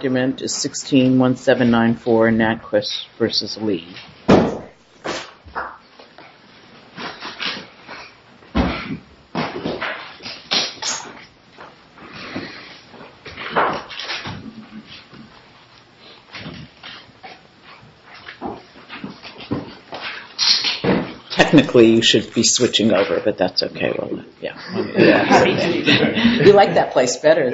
161794 NantKwest v. Lee. Technically you should be switching over, but that's okay. We like that place better.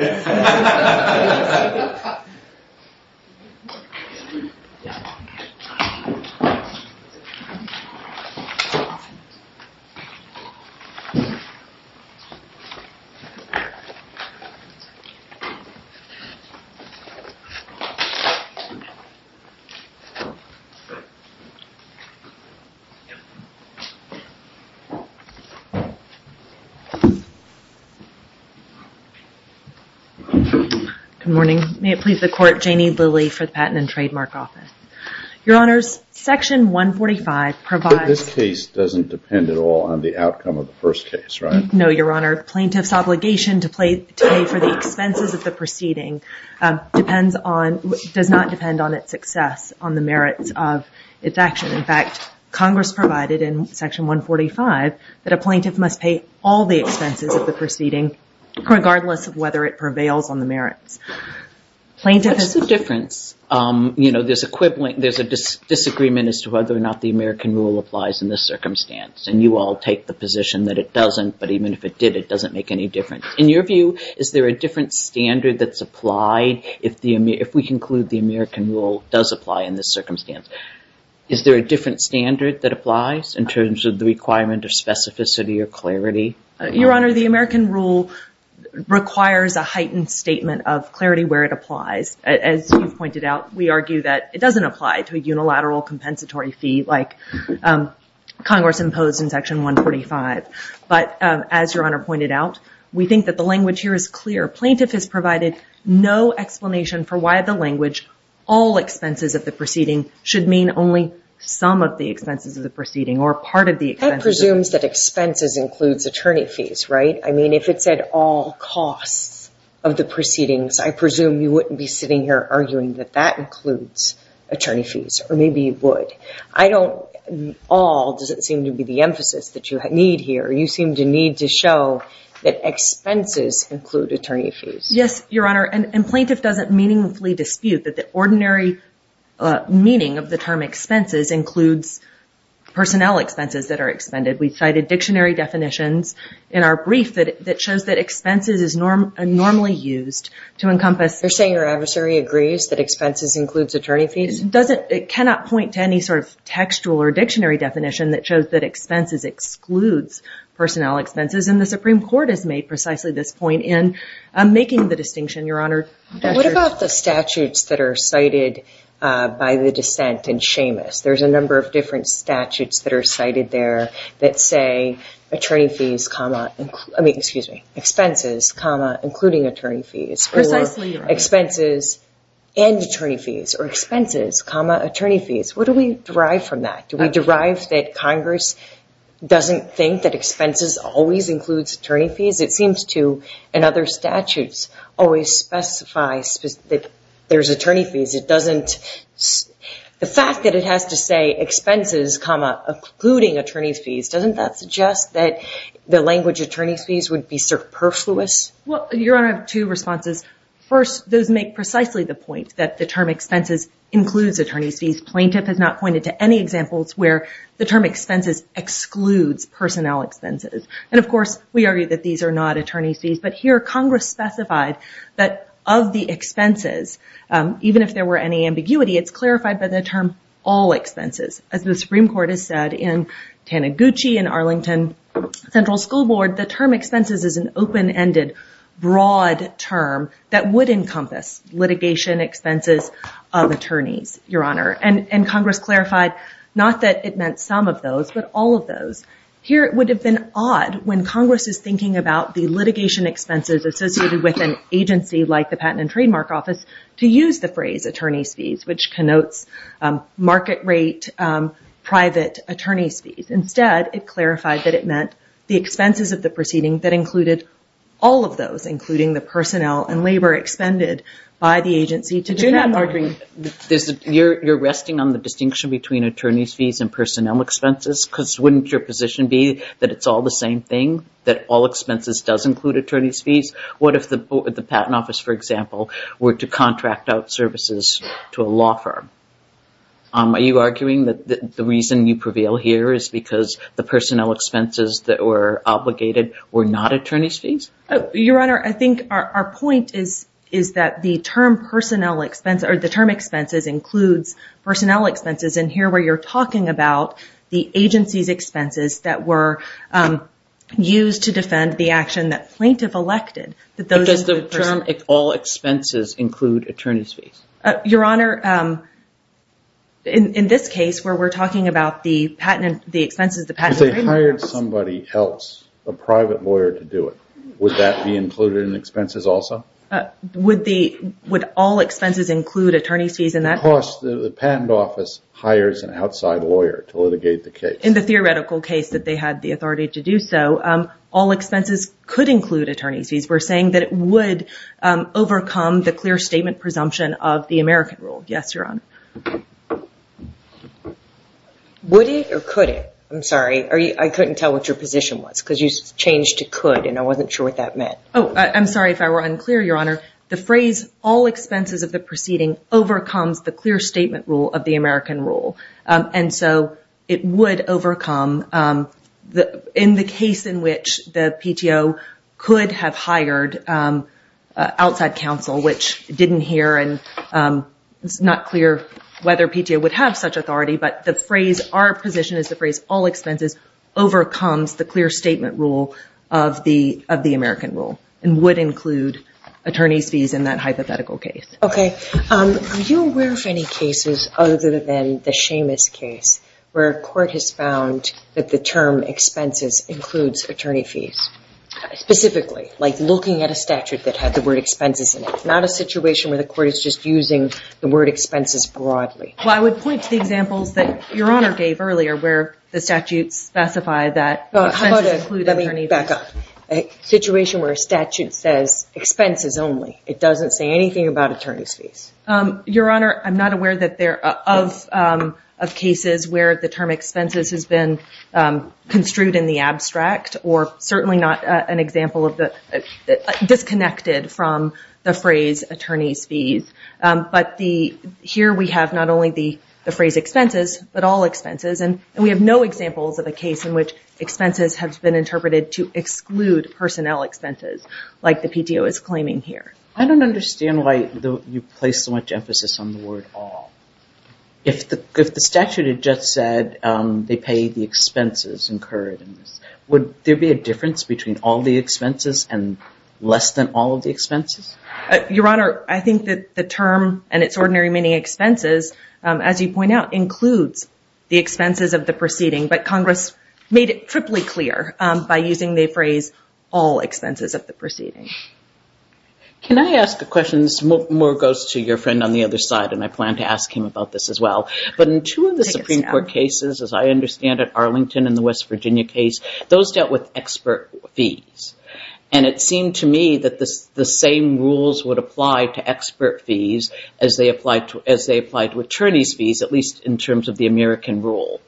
Good morning. May it please the Chair, it's a pleasure to be here. The Court, Janie Lilley for the Patent and Trademark Office. Your Honors, Section 145 provides... But this case doesn't depend at all on the outcome of the first case, right? No, Your Honor. Plaintiff's obligation to pay for the expenses of the proceeding does not depend on its success, on the merits of its action. In fact, Congress provided in Section 145 that a plaintiff must pay all the expenses of the proceeding, regardless of whether it prevails on the merits. What's the difference? You know, there's a disagreement as to whether or not the American rule applies in this circumstance, and you all take the position that it doesn't, but even if it did, it doesn't make any difference. In your view, is there a different standard that's applied if we conclude the American rule does apply in this circumstance? Is there a different standard that applies in terms of the requirement of specificity or clarity? Your Honor, the American rule requires a heightened statement of clarity where it applies. As you've pointed out, we argue that it doesn't apply to a unilateral compensatory fee like Congress imposed in Section 145. But as Your Honor pointed out, we think that the language here is clear. Plaintiff has provided no explanation for why the language, all expenses of the proceeding, should mean only some of the expenses of the proceeding or part of the expenses. It presumes that expenses includes attorney fees, right? I mean, if it said all costs of the proceedings, I presume you wouldn't be sitting here arguing that that includes attorney fees, or maybe you would. I don't – all doesn't seem to be the emphasis that you need here. You seem to need to show that expenses include attorney fees. Yes, Your Honor, and plaintiff doesn't meaningfully dispute that the ordinary meaning of the term expenses includes personnel expenses that are expended. We cited dictionary definitions in our brief that shows that expenses is normally used to encompass – You're saying your adversary agrees that expenses includes attorney fees? It cannot point to any sort of textual or dictionary definition that shows that expenses excludes personnel expenses, and the Supreme Court has made precisely this point in making the distinction, Your Honor. What about the statutes that are cited by the dissent in Seamus? There's a number of different statutes that are cited there that say attorney fees, comma – I mean, excuse me, expenses, comma, including attorney fees. Precisely, Your Honor. Or expenses and attorney fees, or expenses, comma, attorney fees. What do we derive from that? Do we derive that Congress doesn't think that expenses always includes attorney fees? It seems to, in other statutes, always specify that there's attorney fees. The fact that it has to say expenses, comma, including attorney fees, doesn't that suggest that the language attorney fees would be superfluous? Well, Your Honor, two responses. First, those make precisely the point that the term expenses includes attorney fees. Plaintiff has not pointed to any examples where the term expenses excludes personnel expenses. And, of course, we argue that these are not attorney fees, but here Congress specified that of the expenses, even if there were any ambiguity, it's clarified by the term all expenses. As the Supreme Court has said in Taniguchi and Arlington Central School Board, the term expenses is an open-ended, broad term that would encompass litigation expenses of attorneys, Your Honor. And Congress clarified not that it meant some of those, but all of those. Here it would have been odd when Congress is thinking about the litigation expenses associated with an agency like the Patent and Trademark Office to use the phrase attorney's fees, which connotes market rate private attorney's fees. Instead, it clarified that it meant the expenses of the proceeding that included all of those, including the personnel and labor expended by the agency. I do not agree. You're resting on the distinction between attorney's fees and personnel expenses because wouldn't your position be that it's all the same thing, that all expenses does include attorney's fees? What if the Patent Office, for example, were to contract out services to a law firm? Are you arguing that the reason you prevail here is because the personnel expenses that were obligated were not attorney's fees? Your Honor, I think our point is that the term personnel expense or the term expenses includes personnel expenses. And here where you're talking about the agency's expenses that were used to defend the action that plaintiff elected. Does the term all expenses include attorney's fees? Your Honor, in this case where we're talking about the expenses of the Patent and Trademark Office. If they hired somebody else, a private lawyer to do it, would that be included in expenses also? Would all expenses include attorney's fees in that? Because the Patent Office hires an outside lawyer to litigate the case. In the theoretical case that they had the authority to do so, all expenses could include attorney's fees. We're saying that it would overcome the clear statement presumption of the American rule. Yes, Your Honor. Would it or could it? I'm sorry, I couldn't tell what your position was because you changed to could and I wasn't sure what that meant. I'm sorry if I were unclear, Your Honor. The phrase all expenses of the proceeding overcomes the clear statement rule of the American rule. And so it would overcome in the case in which the PTO could have hired outside counsel, which didn't hear and it's not clear whether PTO would have such authority. But our position is the phrase all expenses overcomes the clear statement rule of the American rule and would include attorney's fees in that hypothetical case. Okay. Are you aware of any cases other than the Shamus case where a court has found that the term expenses includes attorney fees? Specifically, like looking at a statute that had the word expenses in it. Not a situation where the court is just using the word expenses broadly. Well, I would point to the examples that Your Honor gave earlier where the statutes specify that expenses include attorney fees. Let me back up. A situation where a statute says expenses only. It doesn't say anything about attorney's fees. Your Honor, I'm not aware of cases where the term expenses has been construed in the abstract or certainly not an example of the disconnected from the phrase attorney's fees. But here we have not only the phrase expenses but all expenses and we have no examples of a case in which expenses have been interpreted to exclude personnel expenses like the PTO is claiming here. I don't understand why you place so much emphasis on the word all. If the statute had just said they pay the expenses incurred, would there be a difference between all the expenses and less than all of the expenses? Your Honor, I think that the term and its ordinary meaning expenses, as you point out, includes the expenses of the proceeding. But Congress made it triply clear by using the phrase all expenses of the proceeding. Can I ask a question? This more goes to your friend on the other side and I plan to ask him about this as well. But in two of the Supreme Court cases, as I understand it, Arlington and the West Virginia case, those dealt with expert fees. And it seemed to me that the same rules would apply to expert fees as they applied to attorney's fees, at least in terms of the American rule.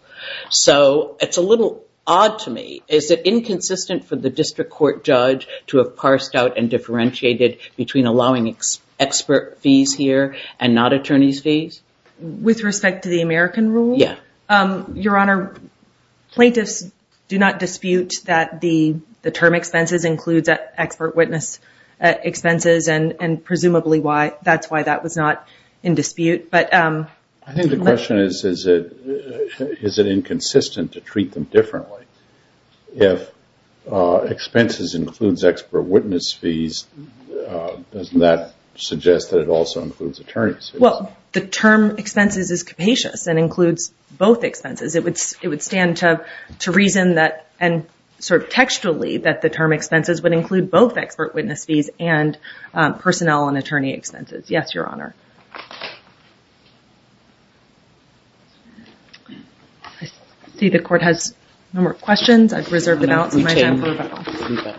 So it's a little odd to me. Is it inconsistent for the district court judge to have parsed out and differentiated between allowing expert fees here and not attorney's fees? With respect to the American rule? Yeah. Your Honor, plaintiffs do not dispute that the term expenses includes expert witness expenses and presumably that's why that was not in dispute. I think the question is, is it inconsistent to treat them differently? If expenses includes expert witness fees, doesn't that suggest that it also includes attorney's fees? Well, the term expenses is capacious and includes both expenses. It would stand to reason that and sort of textually that the term expenses would include both expert witness fees and personnel and attorney expenses. Yes, Your Honor. I see the court has no more questions. I reserve the balance of my time for rebuttal.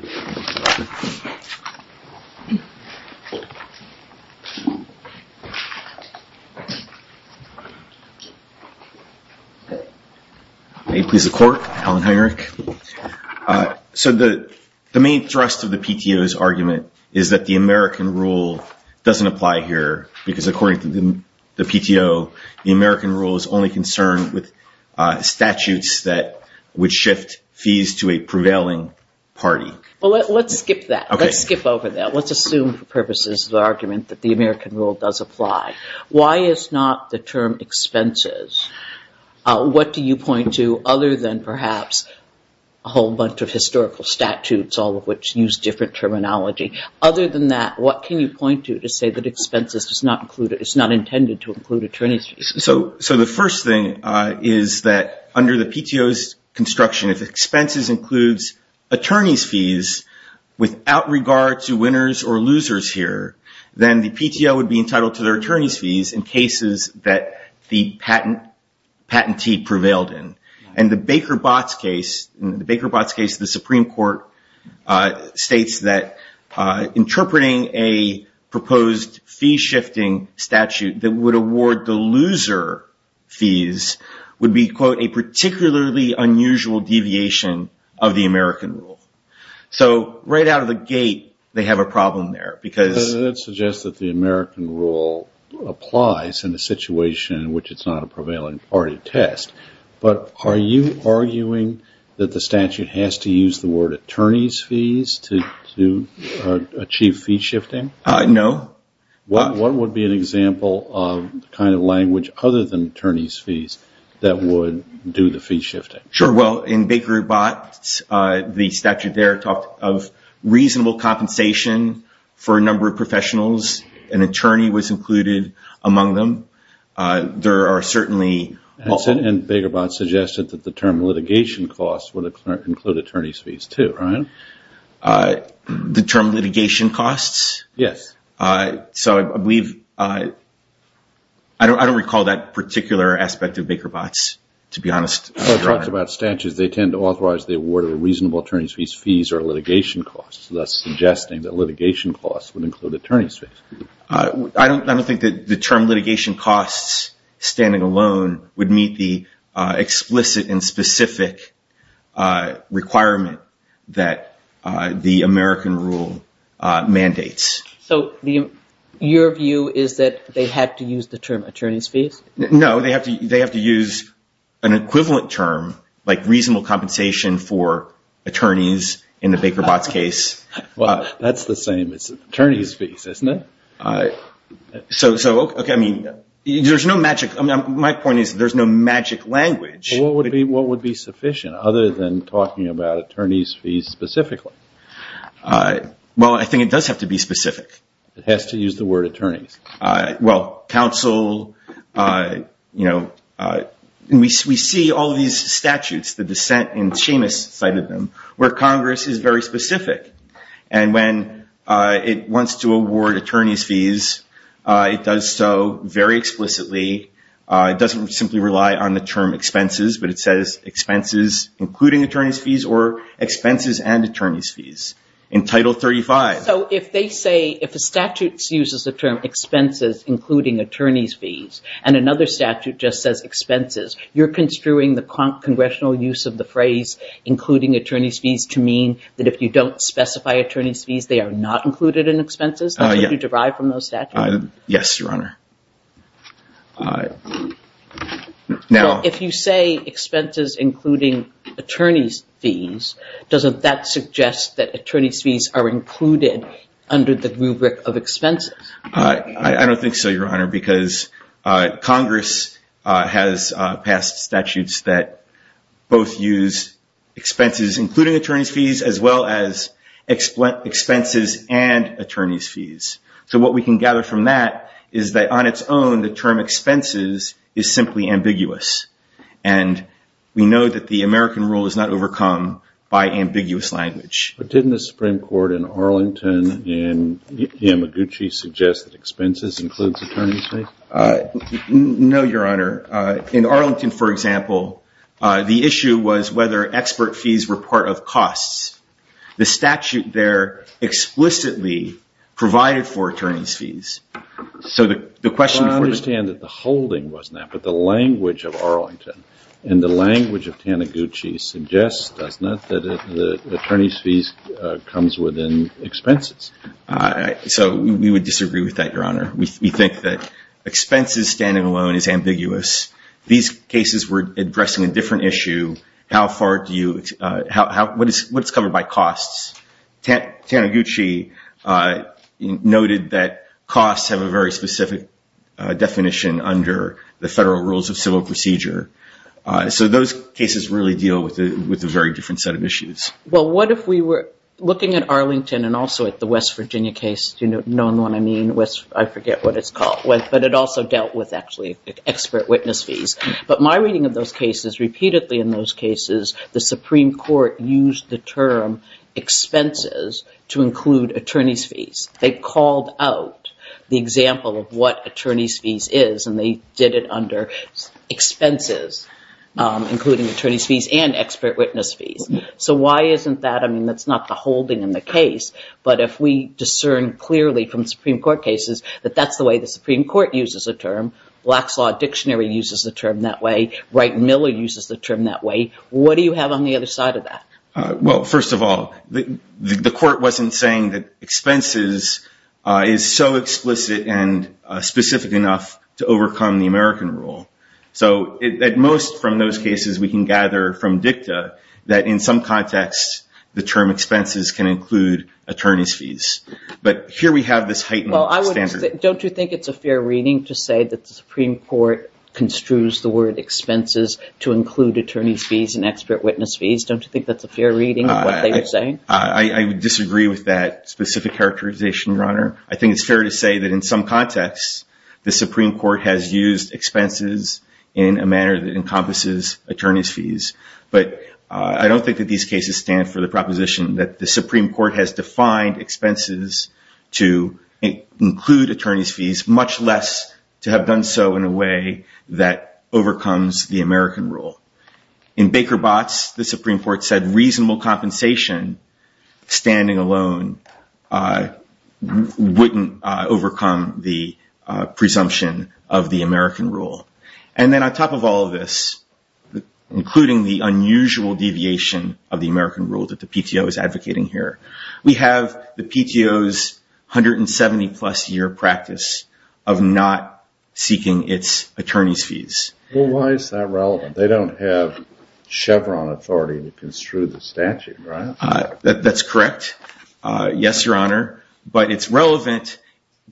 May it please the court? Helen, hi, Eric. So the main thrust of the PTO's argument is that the American rule doesn't apply here because according to the PTO, the American rule is only concerned with statutes that would shift fees to a prevailing party. Well, let's skip that. Let's skip over that. Let's assume for purposes of the argument that the American rule does apply. Why is not the term expenses? What do you point to other than perhaps a whole bunch of historical statutes, all of which use different terminology? Other than that, what can you point to to say that expenses is not intended to include attorney's fees? So the first thing is that under the PTO's construction, if expenses includes attorney's fees without regard to winners or losers here, then the PTO would be entitled to their attorney's fees in cases that the patentee prevailed in. And the Baker-Botts case, the Baker-Botts case of the Supreme Court, states that interpreting a proposed fee-shifting statute that would award the loser fees would be, quote, a particularly unusual deviation of the American rule. So right out of the gate, they have a problem there. That suggests that the American rule applies in a situation in which it's not a prevailing party test. But are you arguing that the statute has to use the word attorney's fees to achieve fee-shifting? No. What would be an example of the kind of language other than attorney's fees that would do the fee-shifting? Sure. Well, in Baker-Botts, the statute there talked of reasonable compensation for a number of professionals. An attorney was included among them. And Baker-Botts suggested that the term litigation costs would include attorney's fees too, right? The term litigation costs? Yes. So I believe – I don't recall that particular aspect of Baker-Botts, to be honest. Well, it talks about statutes. They tend to authorize the award of reasonable attorney's fees or litigation costs, thus suggesting that litigation costs would include attorney's fees. I don't think that the term litigation costs standing alone would meet the explicit and specific requirement that the American rule mandates. So your view is that they had to use the term attorney's fees? No. They have to use an equivalent term like reasonable compensation for attorneys in the Baker-Botts case. Well, that's the same as attorney's fees, isn't it? So, okay, I mean, there's no magic – my point is there's no magic language. Well, what would be sufficient other than talking about attorney's fees specifically? Well, I think it does have to be specific. It has to use the word attorneys. Well, counsel, you know, we see all these statutes, the dissent, and Seamus cited them, where Congress is very specific. And when it wants to award attorney's fees, it does so very explicitly. It doesn't simply rely on the term expenses, but it says expenses including attorney's fees or expenses and attorney's fees in Title 35. So if they say – if a statute uses the term expenses including attorney's fees and another statute just says expenses, you're construing the congressional use of the phrase including attorney's fees to mean that if you don't specify attorney's fees, they are not included in expenses? That's what you derive from those statutes? Yes, Your Honor. So if you say expenses including attorney's fees, doesn't that suggest that attorney's fees are included under the rubric of expenses? I don't think so, Your Honor, because Congress has passed statutes that both use expenses including attorney's fees as well as expenses and attorney's fees. So what we can gather from that is that on its own, the term expenses is simply ambiguous. And we know that the American rule is not overcome by ambiguous language. But didn't the Supreme Court in Arlington and Yamaguchi suggest that expenses includes attorney's fees? No, Your Honor. In Arlington, for example, the issue was whether expert fees were part of costs. The statute there explicitly provided for attorney's fees. So the question for the… Well, I understand that the holding was not, but the language of Arlington and the language of Taniguchi suggests, doesn't it, that attorney's fees comes within expenses? So we would disagree with that, Your Honor. We think that expenses standing alone is ambiguous. These cases were addressing a different issue. How far do you – what is covered by costs? Taniguchi noted that costs have a very specific definition under the federal rules of civil procedure. So those cases really deal with a very different set of issues. Well, what if we were looking at Arlington and also at the West Virginia case? Do you know what I mean? I forget what it's called. But it also dealt with actually expert witness fees. But my reading of those cases, repeatedly in those cases, the Supreme Court used the term expenses to include attorney's fees. They called out the example of what attorney's fees is, and they did it under expenses, including attorney's fees and expert witness fees. So why isn't that – I mean, that's not the holding in the case. But if we discern clearly from Supreme Court cases that that's the way the Supreme Court uses the term, Black's Law Dictionary uses the term that way, Wright and Miller uses the term that way, what do you have on the other side of that? Well, first of all, the court wasn't saying that expenses is so explicit and specific enough to overcome the American rule. So at most from those cases, we can gather from dicta that in some context, the term expenses can include attorney's fees. But here we have this heightened standard. Don't you think it's a fair reading to say that the Supreme Court construes the word expenses to include attorney's fees and expert witness fees? Don't you think that's a fair reading of what they were saying? I would disagree with that specific characterization, Your Honor. I think it's fair to say that in some context, the Supreme Court has used expenses in a manner that encompasses attorney's fees. But I don't think that these cases stand for the proposition that the Supreme Court has defined expenses to include attorney's fees, much less to have done so in a way that overcomes the American rule. In Baker Botts, the Supreme Court said reasonable compensation, standing alone, wouldn't overcome the presumption of the American rule. And then on top of all of this, including the unusual deviation of the American rule that the PTO is advocating here, we have the PTO's 170-plus year practice of not seeking its attorney's fees. Well, why is that relevant? They don't have Chevron authority to construe the statute, right? That's correct. Yes, Your Honor. But it's relevant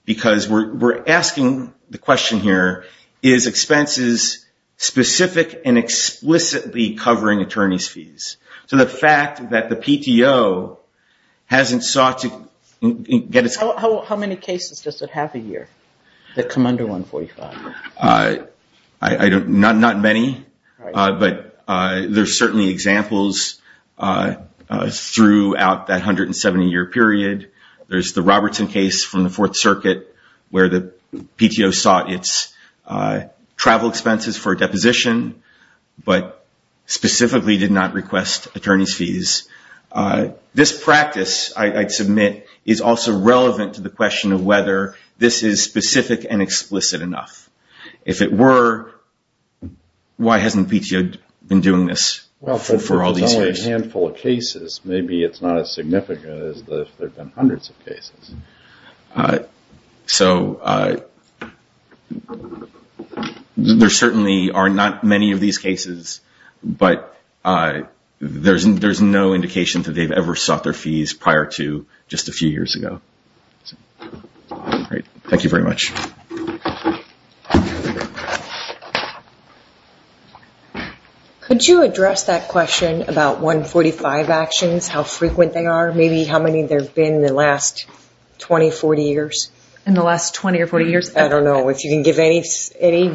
because we're asking the question here, is expenses specific and explicitly covering attorney's fees? So the fact that the PTO hasn't sought to get its… How many cases does it have a year that come under 145? Not many, but there's certainly examples throughout that 170-year period. There's the Robertson case from the Fourth Circuit where the PTO sought its travel expenses for deposition, but specifically did not request attorney's fees. This practice, I'd submit, is also relevant to the question of whether this is specific and explicit enough. If it were, why hasn't the PTO been doing this for all these years? Well, there's only a handful of cases. Maybe it's not as significant as if there have been hundreds of cases. So there certainly are not many of these cases, but there's no indication that they've ever sought their fees prior to just a few years ago. Thank you very much. Could you address that question about 145 actions, how frequent they are? Maybe how many there have been in the last 20, 40 years? In the last 20 or 40 years? I don't know if you can give any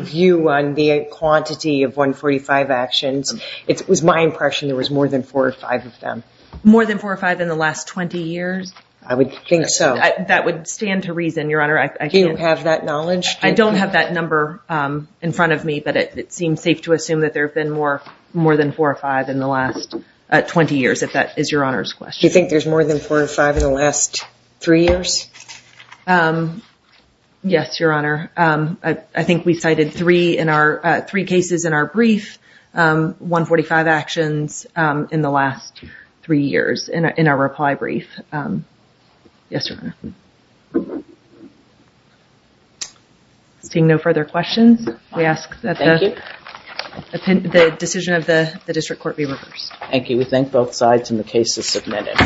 view on the quantity of 145 actions. It was my impression there was more than four or five of them. More than four or five in the last 20 years? I would think so. That would stand to reason, Your Honor. Do you have that knowledge? I don't have that number in front of me, but it seems safe to assume that there have been more than four or five in the last 20 years, if that is Your Honor's question. Do you think there's more than four or five in the last three years? Yes, Your Honor. I think we cited three cases in our brief, 145 actions in the last three years in our reply brief. Yes, Your Honor. Seeing no further questions, we ask that the decision of the district court be reversed. Thank you. We thank both sides, and the case is submitted.